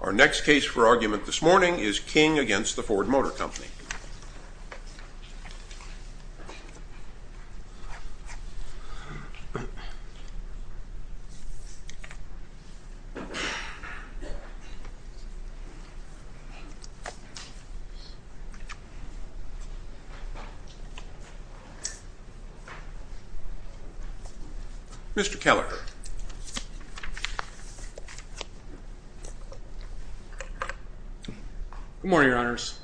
Our next case for argument this morning is King v. Ford Motor Company Mr. Keller Good morning, Your Honors.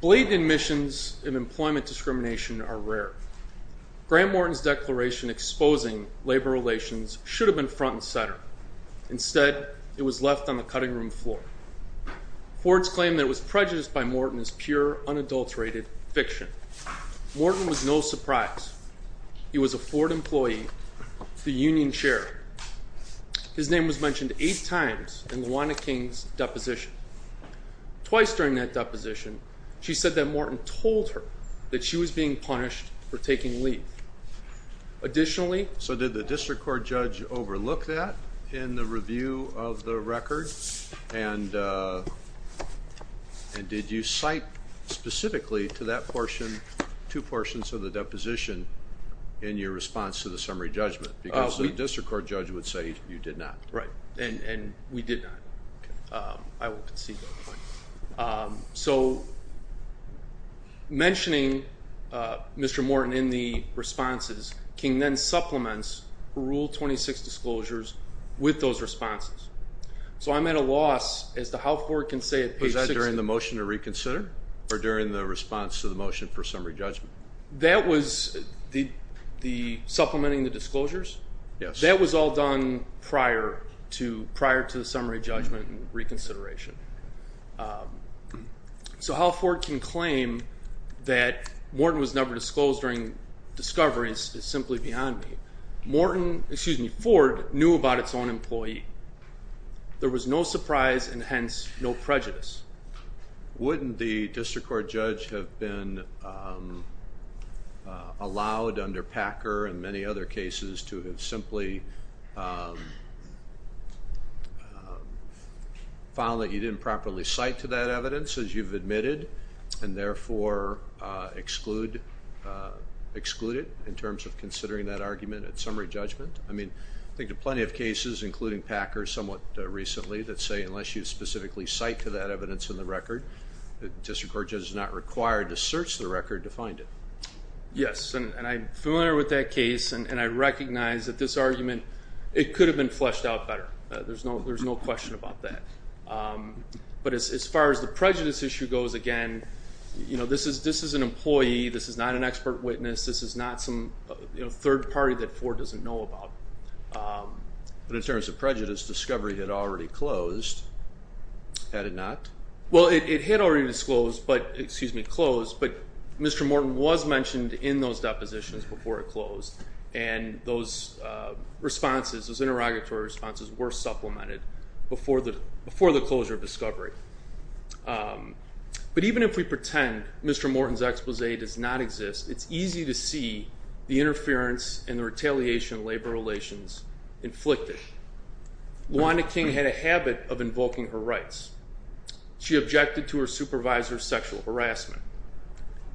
Blatant admissions of employment discrimination are rare. Graham Morton's declaration exposing labor relations should have been front and center. Instead, it was left on the cutting room floor. Ford's claim that it was prejudiced by Morton is pure, unadulterated fiction. Morton was no surprise. He was a Ford employee, the union chair. His name was mentioned eight times in Lawanda King's deposition. Twice during that deposition, she said that Morton told her that she was being punished for taking leave. Additionally... So did the district court judge overlook that in the review of the record? And did you cite specifically to that portion two portions of the deposition in your response to the summary judgment? Because the district court judge would say you did not. Right, and we did not. I will concede that point. So mentioning Mr. Morton in the responses, King then supplements Rule 26 disclosures with those responses. So I'm at a loss as to how Ford can say at page 16... Was that during the motion to reconsider or during the response to the motion for summary judgment? That was the supplementing the disclosures? Yes. That was all done prior to the summary judgment and reconsideration. So how Ford can claim that Morton was never disclosed during discovery is simply beyond me. Morton, excuse me, Ford, knew about its own employee. There was no surprise and hence no prejudice. Wouldn't the district court judge have been allowed under Packer and many other cases to have simply found that you didn't properly cite to that evidence as you've admitted and therefore exclude it in terms of considering that argument at summary judgment? I mean, I think there are plenty of cases, including Packer somewhat recently, that say unless you specifically cite to that evidence in the record, the district court judge is not required to search the record to find it. Yes, and I'm familiar with that case, and I recognize that this argument, it could have been fleshed out better. There's no question about that. But as far as the prejudice issue goes, again, this is an employee. This is not an expert witness. This is not some third party that Ford doesn't know about. But in terms of prejudice, discovery had already closed, had it not? Well, it had already disclosed but, excuse me, closed, but Mr. Morton was mentioned in those depositions before it closed, and those responses, those interrogatory responses were supplemented before the closure of discovery. But even if we pretend Mr. Morton's expose does not exist, it's easy to see the interference and the retaliation of labor relations inflicted. LaWanda King had a habit of invoking her rights. She objected to her supervisor's sexual harassment.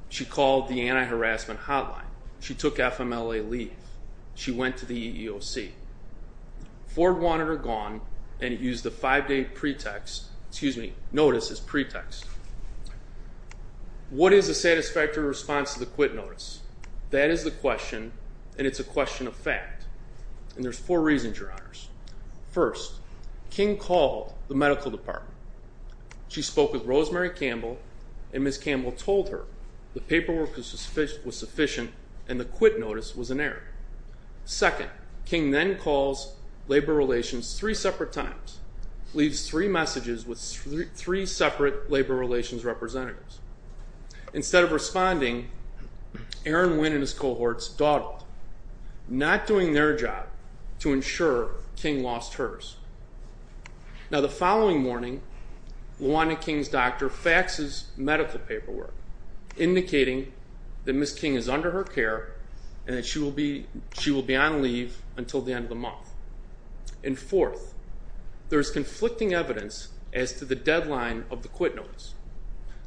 She called the anti-harassment hotline. She took FMLA leave. She went to the EEOC. Ford wanted her gone and used the five-day notice as pretext. What is a satisfactory response to the quit notice? That is the question, and it's a question of fact. And there's four reasons, Your Honors. First, King called the medical department. She spoke with Rosemary Campbell, and Ms. Campbell told her the paperwork was sufficient and the quit notice was inerrant. Second, King then calls labor relations three separate times, leaves three messages with three separate labor relations representatives. Instead of responding, Aaron Winn and his cohorts dawdled, not doing their job to ensure King lost hers. Now the following morning, LaWanda King's doctor faxes medical paperwork, indicating that Ms. King is under her care and that she will be on leave until the end of the month. And fourth, there is conflicting evidence as to the deadline of the quit notice.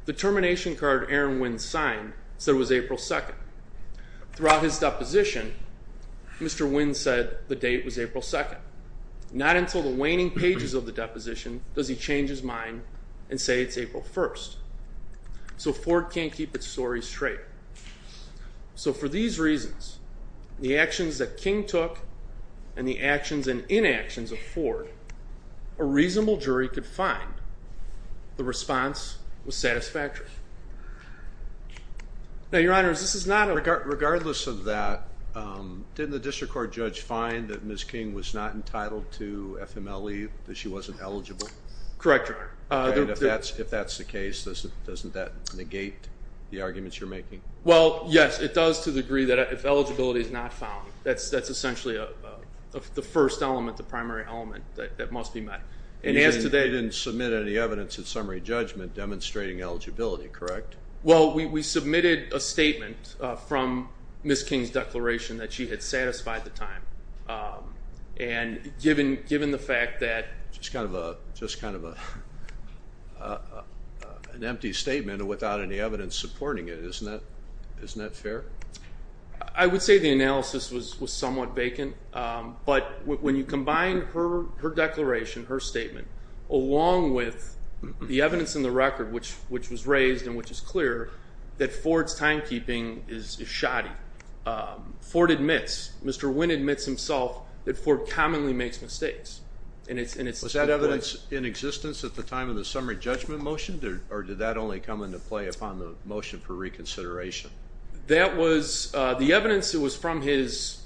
The termination card Aaron Winn signed said it was April 2nd. Throughout his deposition, Mr. Winn said the date was April 2nd. Not until the waning pages of the deposition does he change his mind and say it's April 1st. So Ford can't keep its story straight. So for these reasons, the actions that King took and the actions and inactions of Ford, a reasonable jury could find the response was satisfactory. Now, Your Honor, this is not a... Regardless of that, didn't the district court judge find that Ms. King was not entitled to FMLE, that she wasn't eligible? Correct, Your Honor. And if that's the case, doesn't that negate the arguments you're making? Well, yes, it does to the degree that if eligibility is not found, that's essentially the first element, the primary element that must be met. And as to that... You didn't submit any evidence in summary judgment demonstrating eligibility, correct? Well, we submitted a statement from Ms. King's declaration that she had satisfied the time. And given the fact that... Just kind of an empty statement without any evidence supporting it. Isn't that fair? I would say the analysis was somewhat vacant. But when you combine her declaration, her statement, along with the evidence in the record, which was raised and which is clear, that Ford's timekeeping is shoddy. Ford admits, Mr. Wynn admits himself, that Ford commonly makes mistakes. Was that evidence in existence at the time of the summary judgment motion, or did that only come into play upon the motion for reconsideration? The evidence was from his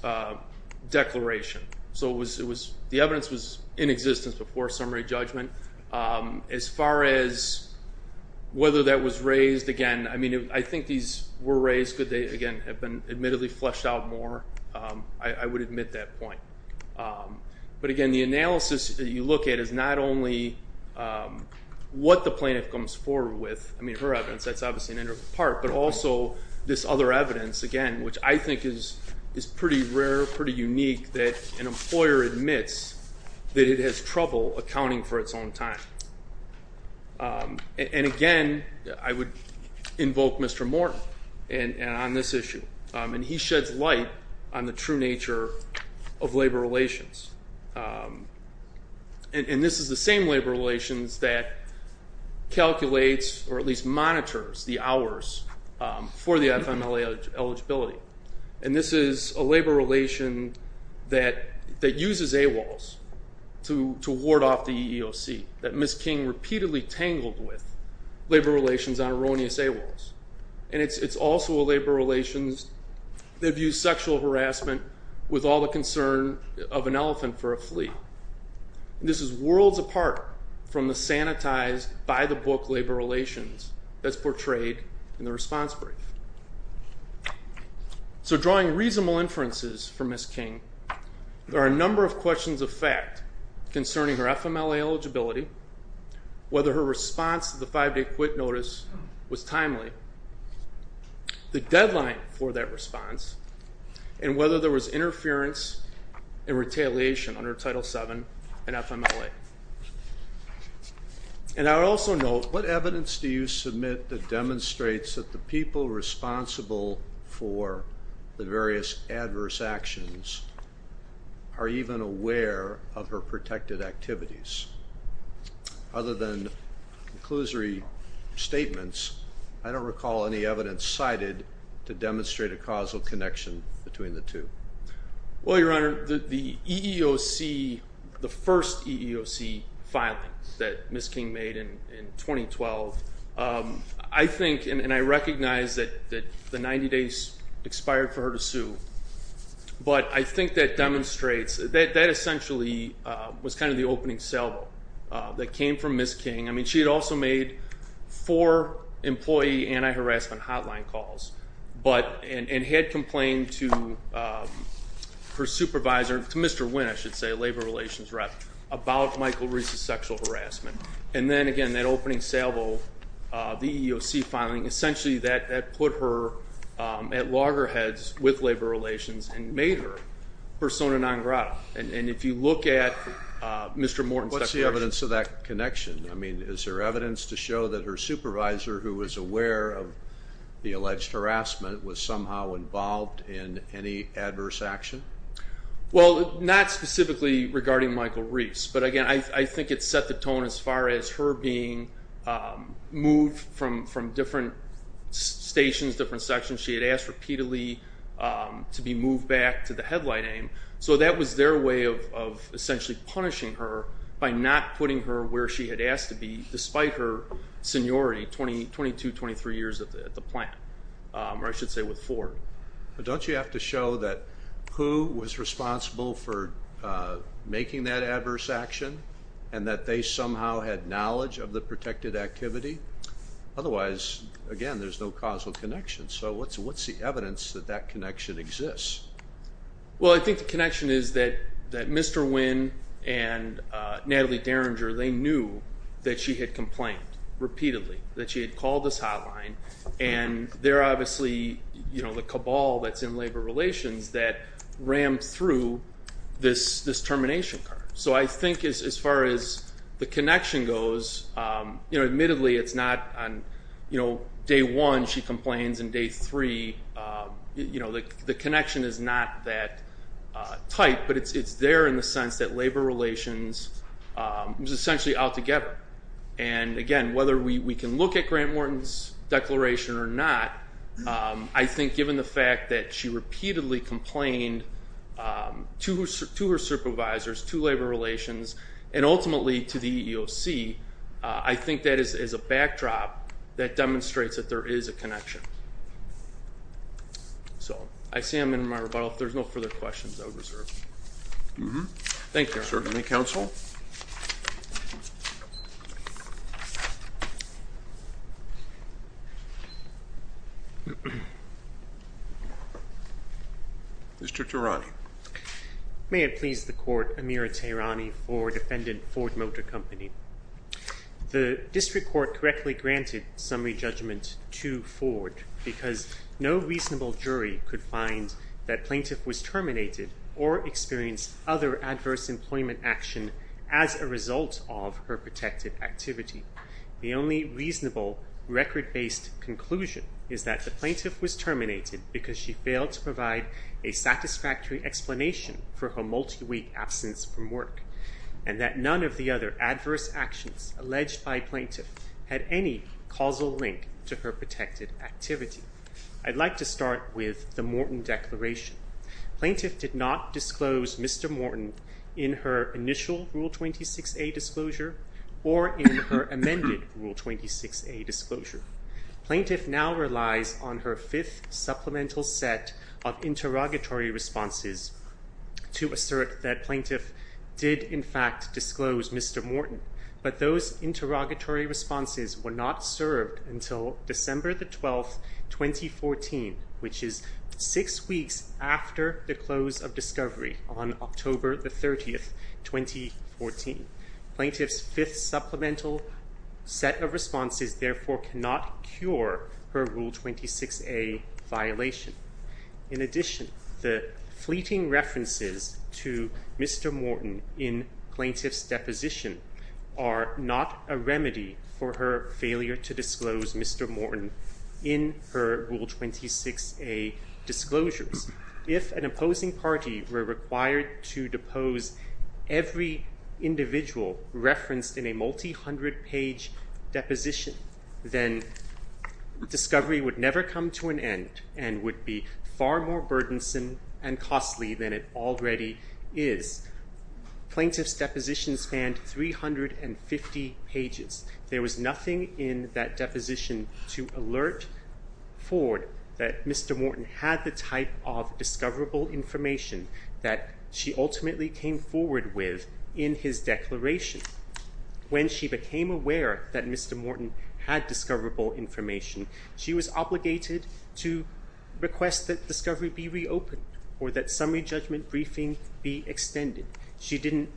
declaration. So the evidence was in existence before summary judgment. As far as whether that was raised, again, I think these were raised, but they, again, have been admittedly fleshed out more. I would admit that point. But, again, the analysis that you look at is not only what the plaintiff comes forward with, I mean, her evidence, that's obviously an integral part, but also this other evidence, again, which I think is pretty rare, pretty unique, that an employer admits that it has trouble accounting for its own time. And, again, I would invoke Mr. Morton on this issue. And he sheds light on the true nature of labor relations. And this is the same labor relations that calculates, or at least monitors, the hours for the FMLA eligibility. And this is a labor relation that uses AWOLs to ward off the EEOC, that Ms. King repeatedly tangled with labor relations on erroneous AWOLs. And it's also a labor relations that views sexual harassment with all the concern of an elephant for a flea. This is worlds apart from the sanitized, by-the-book labor relations that's portrayed in the response brief. So drawing reasonable inferences from Ms. King, there are a number of questions of fact concerning her FMLA eligibility, whether her response to the five-day quit notice was timely, the deadline for that response, and whether there was interference and retaliation under Title VII and FMLA. And I would also note, what evidence do you submit that demonstrates that the people responsible for the various adverse actions are even aware of her protected activities? Other than conclusory statements, I don't recall any evidence cited to demonstrate a causal connection between the two. Well, Your Honor, the EEOC, the first EEOC filing that Ms. King made in 2012, I think and I recognize that the 90 days expired for her to sue, but I think that demonstrates, that essentially was kind of the opening sell that came from Ms. King. I mean, she had also made four employee anti-harassment hotline calls, and had complained to her supervisor, to Mr. Wynn, I should say, a labor relations rep, about Michael Reese's sexual harassment. And then, again, that opening salvo, the EEOC filing, essentially that put her at loggerheads with labor relations and made her persona non grata. And if you look at Mr. Morton's declaration. What's the evidence of that connection? I mean, is there evidence to show that her supervisor, who was aware of the alleged harassment, was somehow involved in any adverse action? Well, not specifically regarding Michael Reese. But, again, I think it set the tone as far as her being moved from different stations, different sections. She had asked repeatedly to be moved back to the headlight aim. So that was their way of essentially punishing her by not putting her where she had asked to be, despite her seniority, 22, 23 years at the plant, or I should say with Ford. Don't you have to show that who was responsible for making that adverse action and that they somehow had knowledge of the protected activity? Otherwise, again, there's no causal connection. So what's the evidence that that connection exists? Well, I think the connection is that Mr. Wynn and Natalie Derringer, they knew that she had complained repeatedly, that she had called this hotline. And they're obviously the cabal that's in labor relations that rammed through this termination card. So I think as far as the connection goes, admittedly it's not on day one she complains and day three. The connection is not that tight, but it's there in the sense that labor relations was essentially altogether. And, again, whether we can look at Grant Wharton's declaration or not, I think given the fact that she repeatedly complained to her supervisors, to labor relations, and ultimately to the EEOC, I think that is a backdrop that demonstrates that there is a connection. So I see them in my rebuttal. If there's no further questions, I would reserve. Thank you. Certainly, counsel. Mr. Terani. May it please the court, Amirah Terani for defendant Ford Motor Company. The district court correctly granted summary judgment to Ford because no reasonable jury could find that plaintiff was terminated or experienced other adverse employment action as a result of her protected activity. The only reasonable record-based conclusion is that the plaintiff was terminated because she failed to provide a satisfactory explanation for her multi-week absence from work and that none of the other adverse actions alleged by plaintiff had any causal link to her protected activity. I'd like to start with the Morton declaration. Plaintiff did not disclose Mr. Morton in her initial Rule 26a disclosure or in her amended Rule 26a disclosure. Plaintiff now relies on her fifth supplemental set of interrogatory responses to assert that plaintiff did, in fact, disclose Mr. Morton. But those interrogatory responses were not served until December 12, 2014, which is six weeks after the close of discovery on October 30, 2014. Plaintiff's fifth supplemental set of responses, therefore, cannot cure her Rule 26a violation. In addition, the fleeting references to Mr. Morton in plaintiff's deposition are not a remedy for her failure to disclose Mr. Morton in her Rule 26a disclosures. If an opposing party were required to depose every individual referenced in a multi-hundred page deposition, then discovery would never come to an end and would be far more burdensome and costly than it already is. Plaintiff's deposition spanned 350 pages. There was nothing in that deposition to alert Ford that Mr. Morton had the type of discoverable information that she ultimately came forward with in his declaration. When she became aware that Mr. Morton had discoverable information, she was obligated to request that discovery be reopened or that summary judgment briefing be extended. She didn't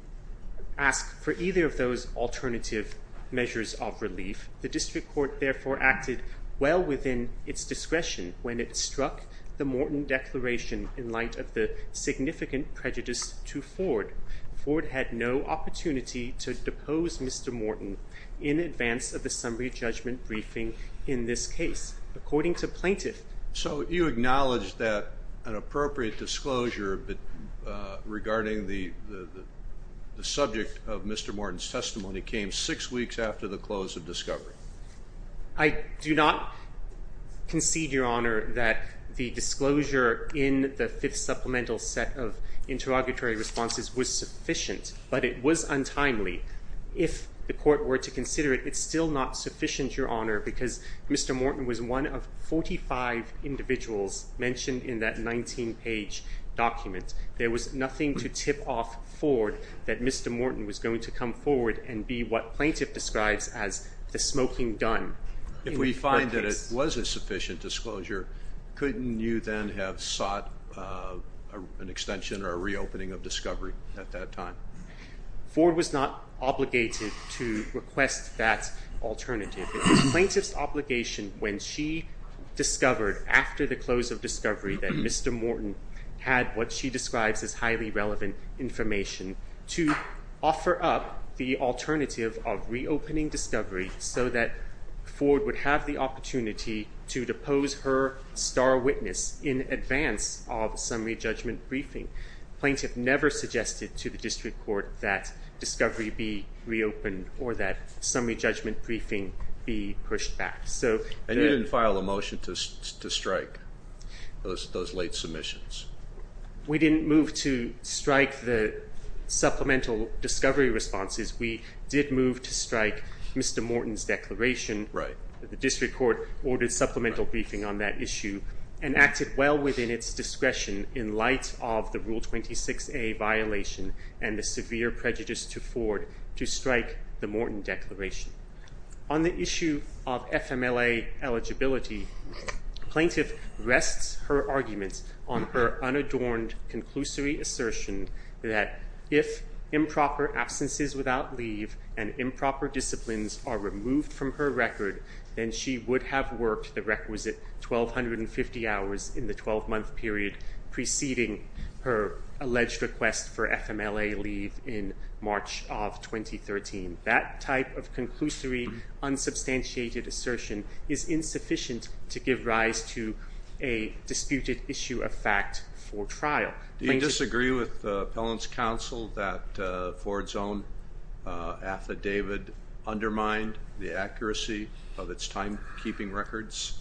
ask for either of those alternative measures of relief. The district court, therefore, acted well within its discretion when it struck the Morton declaration in light of the significant prejudice to Ford. Ford had no opportunity to depose Mr. Morton in advance of the summary judgment briefing in this case. According to plaintiff... So you acknowledge that an appropriate disclosure regarding the subject of Mr. Morton's testimony came six weeks after the close of discovery. I do not concede, Your Honor, that the disclosure in the fifth supplemental set of interrogatory responses was sufficient, but it was untimely. If the court were to consider it, it's still not sufficient, Your Honor, because Mr. Morton was one of 45 individuals mentioned in that 19-page document. There was nothing to tip off Ford that Mr. Morton was going to come forward and be what plaintiff describes as the smoking gun. If we find that it was a sufficient disclosure, couldn't you then have sought an extension or a reopening of discovery at that time? Ford was not obligated to request that alternative. It was plaintiff's obligation when she discovered after the close of discovery that Mr. Morton had what she describes as highly relevant information to offer up the alternative of reopening discovery so that Ford would have the opportunity to depose her star witness in advance of summary judgment briefing. Plaintiff never suggested to the district court that discovery be reopened or that summary judgment briefing be pushed back. And you didn't file a motion to strike those late submissions? We didn't move to strike the supplemental discovery responses. We did move to strike Mr. Morton's declaration. The district court ordered supplemental briefing on that issue and acted well within its discretion in light of the Rule 26a violation and the severe prejudice to Ford to strike the Morton declaration. On the issue of FMLA eligibility, plaintiff rests her arguments on her unadorned conclusory assertion that if improper absences without leave and improper disciplines are removed from her record, then she would have worked the requisite 1,250 hours in the 12-month period preceding her alleged request for FMLA leave in March of 2013. That type of conclusory, unsubstantiated assertion is insufficient to give rise to a disputed issue of fact for trial. Do you disagree with Appellant's counsel that Ford's own affidavit undermined the accuracy of its timekeeping records?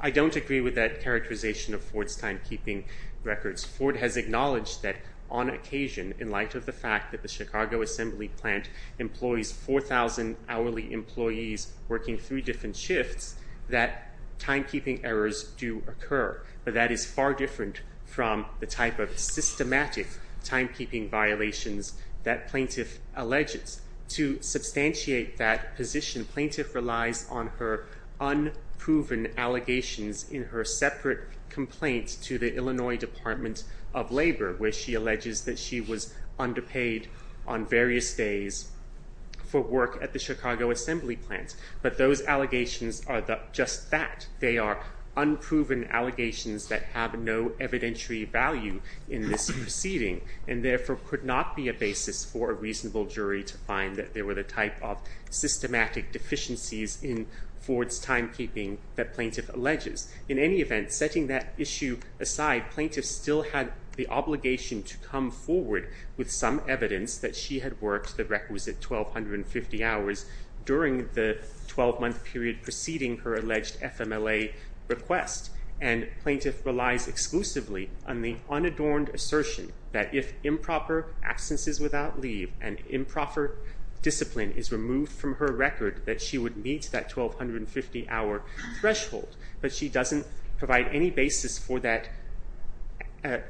I don't agree with that characterization of Ford's timekeeping records. Ford has acknowledged that on occasion, in light of the fact that the Chicago Assembly Plant employs 4,000 hourly employees working three different shifts, that timekeeping errors do occur, but that is far different from the type of systematic timekeeping violations that plaintiff alleges. To substantiate that position, plaintiff relies on her unproven allegations in her separate complaint to the Illinois Department of Labor, where she alleges that she was underpaid on various days for work at the Chicago Assembly Plant. But those allegations are just that. They are unproven allegations that have no evidentiary value in this proceeding and therefore could not be a basis for a reasonable jury to find that there were the type of systematic deficiencies in Ford's timekeeping that plaintiff alleges. In any event, setting that issue aside, plaintiff still had the obligation to come forward with some evidence that she had worked the requisite 1,250 hours during the 12-month period preceding her alleged FMLA request, and plaintiff relies exclusively on the unadorned assertion that if improper absences without leave and improper discipline is removed from her record, that she would meet that 1,250-hour threshold. But she doesn't provide any basis for that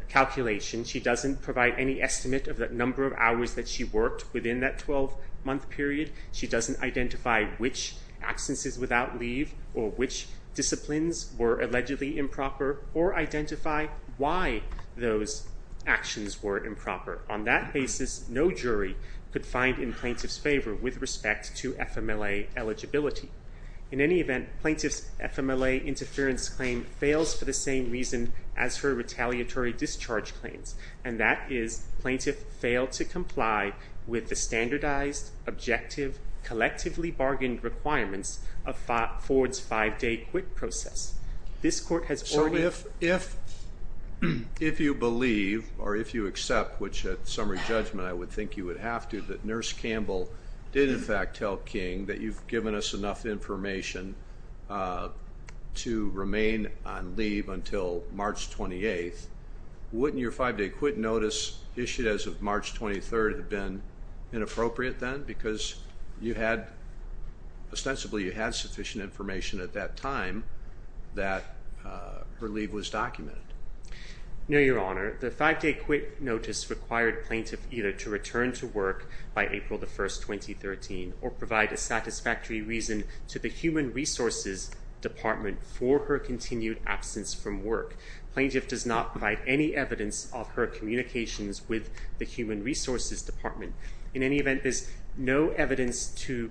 calculation. She doesn't provide any estimate of the number of hours that she worked within that 12-month period. She doesn't identify which absences without leave or which disciplines were allegedly improper or identify why those actions were improper. On that basis, no jury could find in plaintiff's favor with respect to FMLA eligibility. In any event, plaintiff's FMLA interference claim fails for the same reason as her retaliatory discharge claims, and that is plaintiff failed to comply with the standardized, objective, collectively bargained requirements of Ford's 5-day quit process. So if you believe or if you accept, which at summary judgment I would think you would have to, that Nurse Campbell did in fact tell King that you've given us enough information to remain on leave until March 28th, wouldn't your 5-day quit notice issued as of March 23rd have been inappropriate then because ostensibly you had sufficient information at that time that her leave was documented? No, Your Honor. The 5-day quit notice required plaintiff either to return to work by April 1st, 2013, or provide a satisfactory reason to the Human Resources Department for her continued absence from work. Plaintiff does not provide any evidence of her communications with the Human Resources Department. In any event, there's no evidence to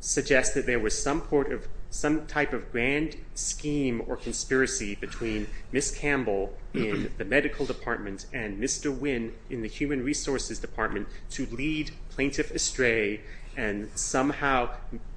suggest that there was some type of grand scheme or conspiracy between Miss Campbell in the Medical Department and Mr. Wynn in the Human Resources Department to lead plaintiff astray and somehow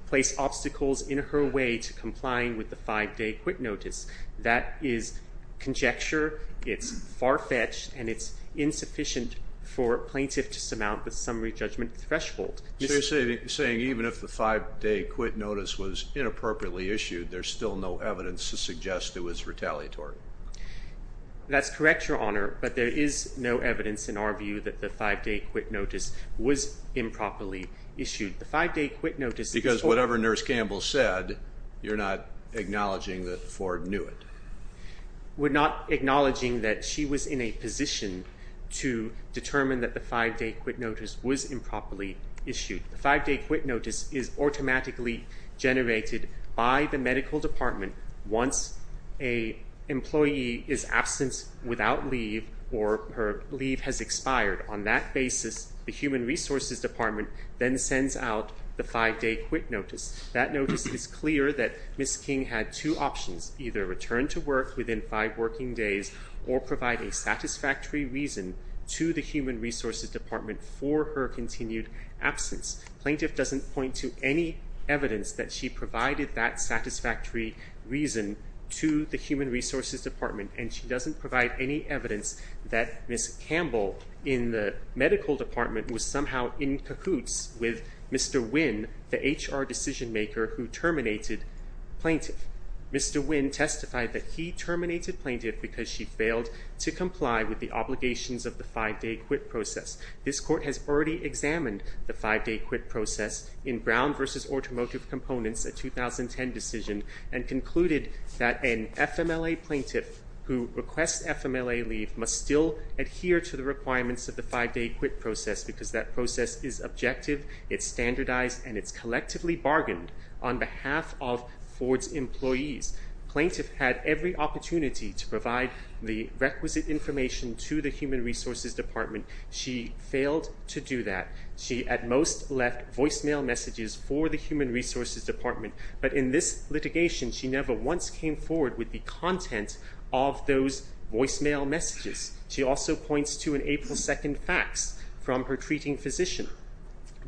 place obstacles in her way to complying with the 5-day quit notice. That is conjecture, it's far-fetched, and it's insufficient for plaintiff to surmount the summary judgment threshold. So you're saying even if the 5-day quit notice was inappropriately issued, there's still no evidence to suggest it was retaliatory? That's correct, Your Honor, but there is no evidence in our view that the 5-day quit notice was improperly issued. Because whatever Nurse Campbell said, you're not acknowledging that Ford knew it? We're not acknowledging that she was in a position to determine that the 5-day quit notice was improperly issued. The 5-day quit notice is automatically generated by the Medical Department once an employee is absent without leave or her leave has expired. On that basis, the Human Resources Department then sends out the 5-day quit notice. That notice is clear that Miss King had two options, either return to work within five working days or provide a satisfactory reason to the Human Resources Department for her continued absence. Plaintiff doesn't point to any evidence that she provided that satisfactory reason to the Human Resources Department, and she doesn't provide any evidence that Miss Campbell in the Medical Department was somehow in cahoots with Mr. Wynn, the HR decision-maker, who terminated plaintiff. Mr. Wynn testified that he terminated plaintiff because she failed to comply with the obligations of the 5-day quit process. This court has already examined the 5-day quit process in Brown v. Automotive Components, a 2010 decision, and concluded that an FMLA plaintiff who requests FMLA leave must still adhere to the requirements of the 5-day quit process because that process is objective, it's standardized, and it's collectively bargained on behalf of Ford's employees. Plaintiff had every opportunity to provide the requisite information to the Human Resources Department. She failed to do that. She at most left voicemail messages for the Human Resources Department, but in this litigation she never once came forward with the content of those voicemail messages. She also points to an April 2nd fax from her treating physician,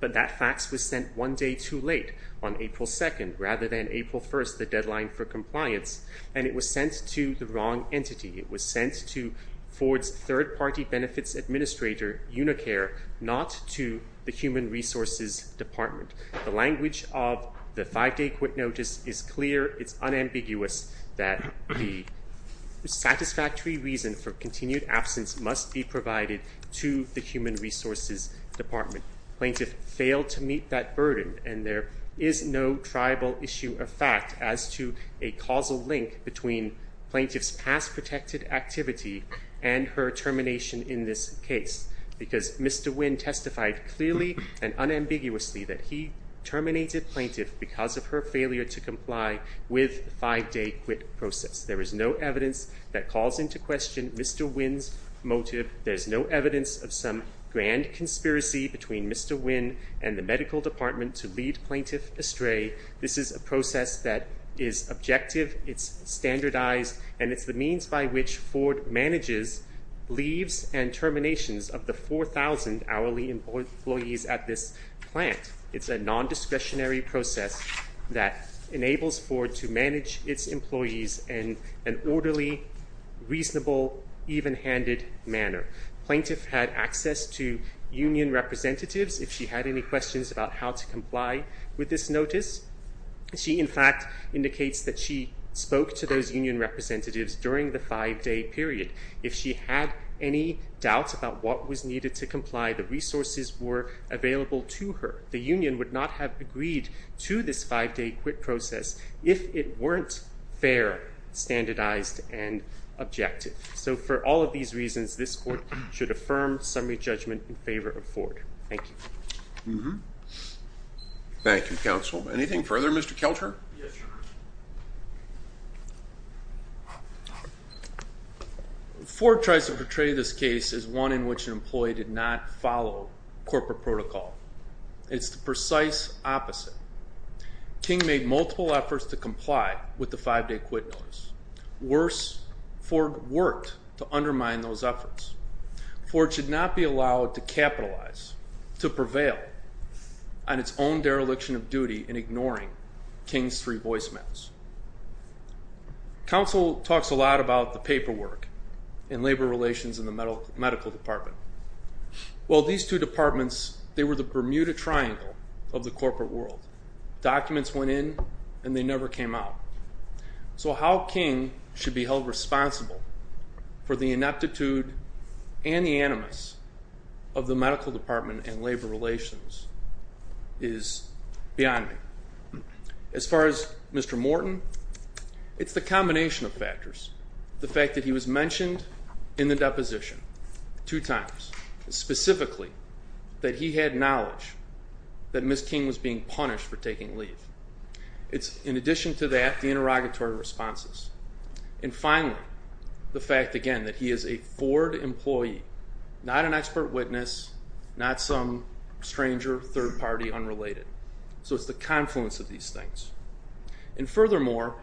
but that fax was sent one day too late on April 2nd rather than April 1st, the deadline for compliance, and it was sent to the wrong entity. It was sent to Ford's third-party benefits administrator, Unicare, not to the Human Resources Department. The language of the 5-day quit notice is clear. It's unambiguous that the satisfactory reason for continued absence must be provided to the Human Resources Department. Plaintiff failed to meet that burden, and there is no tribal issue of fact as to a causal link between plaintiff's past protected activity and her termination in this case because Mr. Wynn testified clearly and unambiguously that he terminated plaintiff because of her failure to comply with the 5-day quit process. There is no evidence that calls into question Mr. Wynn's motive. There's no evidence of some grand conspiracy between Mr. Wynn and the medical department to lead plaintiff astray. This is a process that is objective, it's standardized, and it's the means by which Ford manages leaves and terminations of the 4,000 hourly employees at this plant. It's a nondiscretionary process that enables Ford to manage its employees in an orderly, reasonable, even-handed manner. Plaintiff had access to union representatives if she had any questions about how to comply with this notice. She, in fact, indicates that she spoke to those union representatives during the 5-day period. If she had any doubts about what was needed to comply, the resources were available to her. The union would not have agreed to this 5-day quit process if it weren't fair, standardized, and objective. So for all of these reasons, this court should affirm summary judgment in favor of Ford. Thank you. Thank you, counsel. Anything further, Mr. Kelter? Yes, Your Honor. Ford tries to portray this case as one in which an employee did not follow corporate protocol. It's the precise opposite. King made multiple efforts to comply with the 5-day quit notice. Worse, Ford worked to undermine those efforts. Ford should not be allowed to capitalize, to prevail on its own dereliction of duty in ignoring King's three voicemails. Counsel talks a lot about the paperwork and labor relations in the medical department. Well, these two departments, they were the Bermuda Triangle of the corporate world. Documents went in and they never came out. So how King should be held responsible for the ineptitude and the animus of the medical department and labor relations is beyond me. As far as Mr. Morton, it's the combination of factors. The fact that he was mentioned in the deposition two times, specifically that he had knowledge that Ms. King was being punished for taking leave. It's, in addition to that, the interrogatory responses. And finally, the fact, again, that he is a Ford employee, not an expert witness, not some stranger, third party, unrelated. So it's the confluence of these things. And furthermore,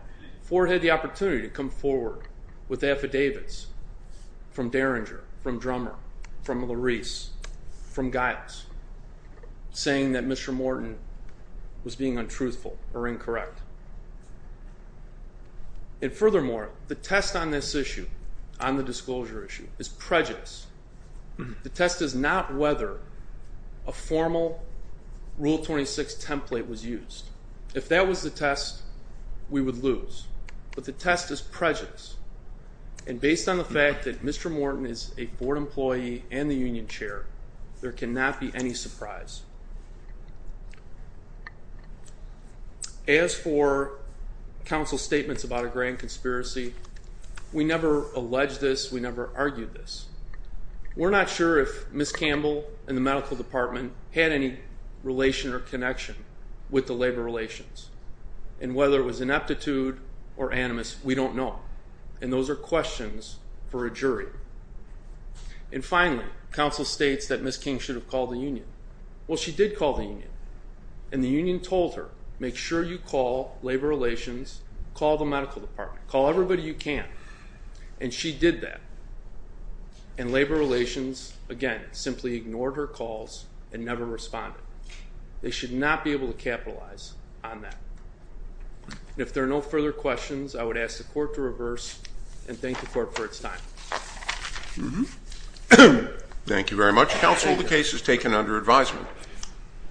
Ford had the opportunity to come forward with affidavits from Derringer, from Drummer, from Larisse, from Giles, saying that Mr. Morton was being untruthful or incorrect. And furthermore, the test on this issue, on the disclosure issue, is prejudice. The test is not whether a formal Rule 26 template was used. If that was the test, we would lose. But the test is prejudice. And based on the fact that Mr. Morton is a Ford employee and the union chair, there cannot be any surprise. As for counsel's statements about a grand conspiracy, we never alleged this, we never argued this. We're not sure if Ms. Campbell and the medical department had any relation or connection with the labor relations. And whether it was ineptitude or animus, we don't know. And those are questions for a jury. And finally, counsel states that Ms. King should have called the union. Well, she did call the union, and the union told her, make sure you call labor relations, call the medical department, call everybody you can. And she did that. And labor relations, again, simply ignored her calls and never responded. They should not be able to capitalize on that. If there are no further questions, I would ask the court to reverse and thank the court for its time. Thank you very much. Counsel, the case is taken under advisement.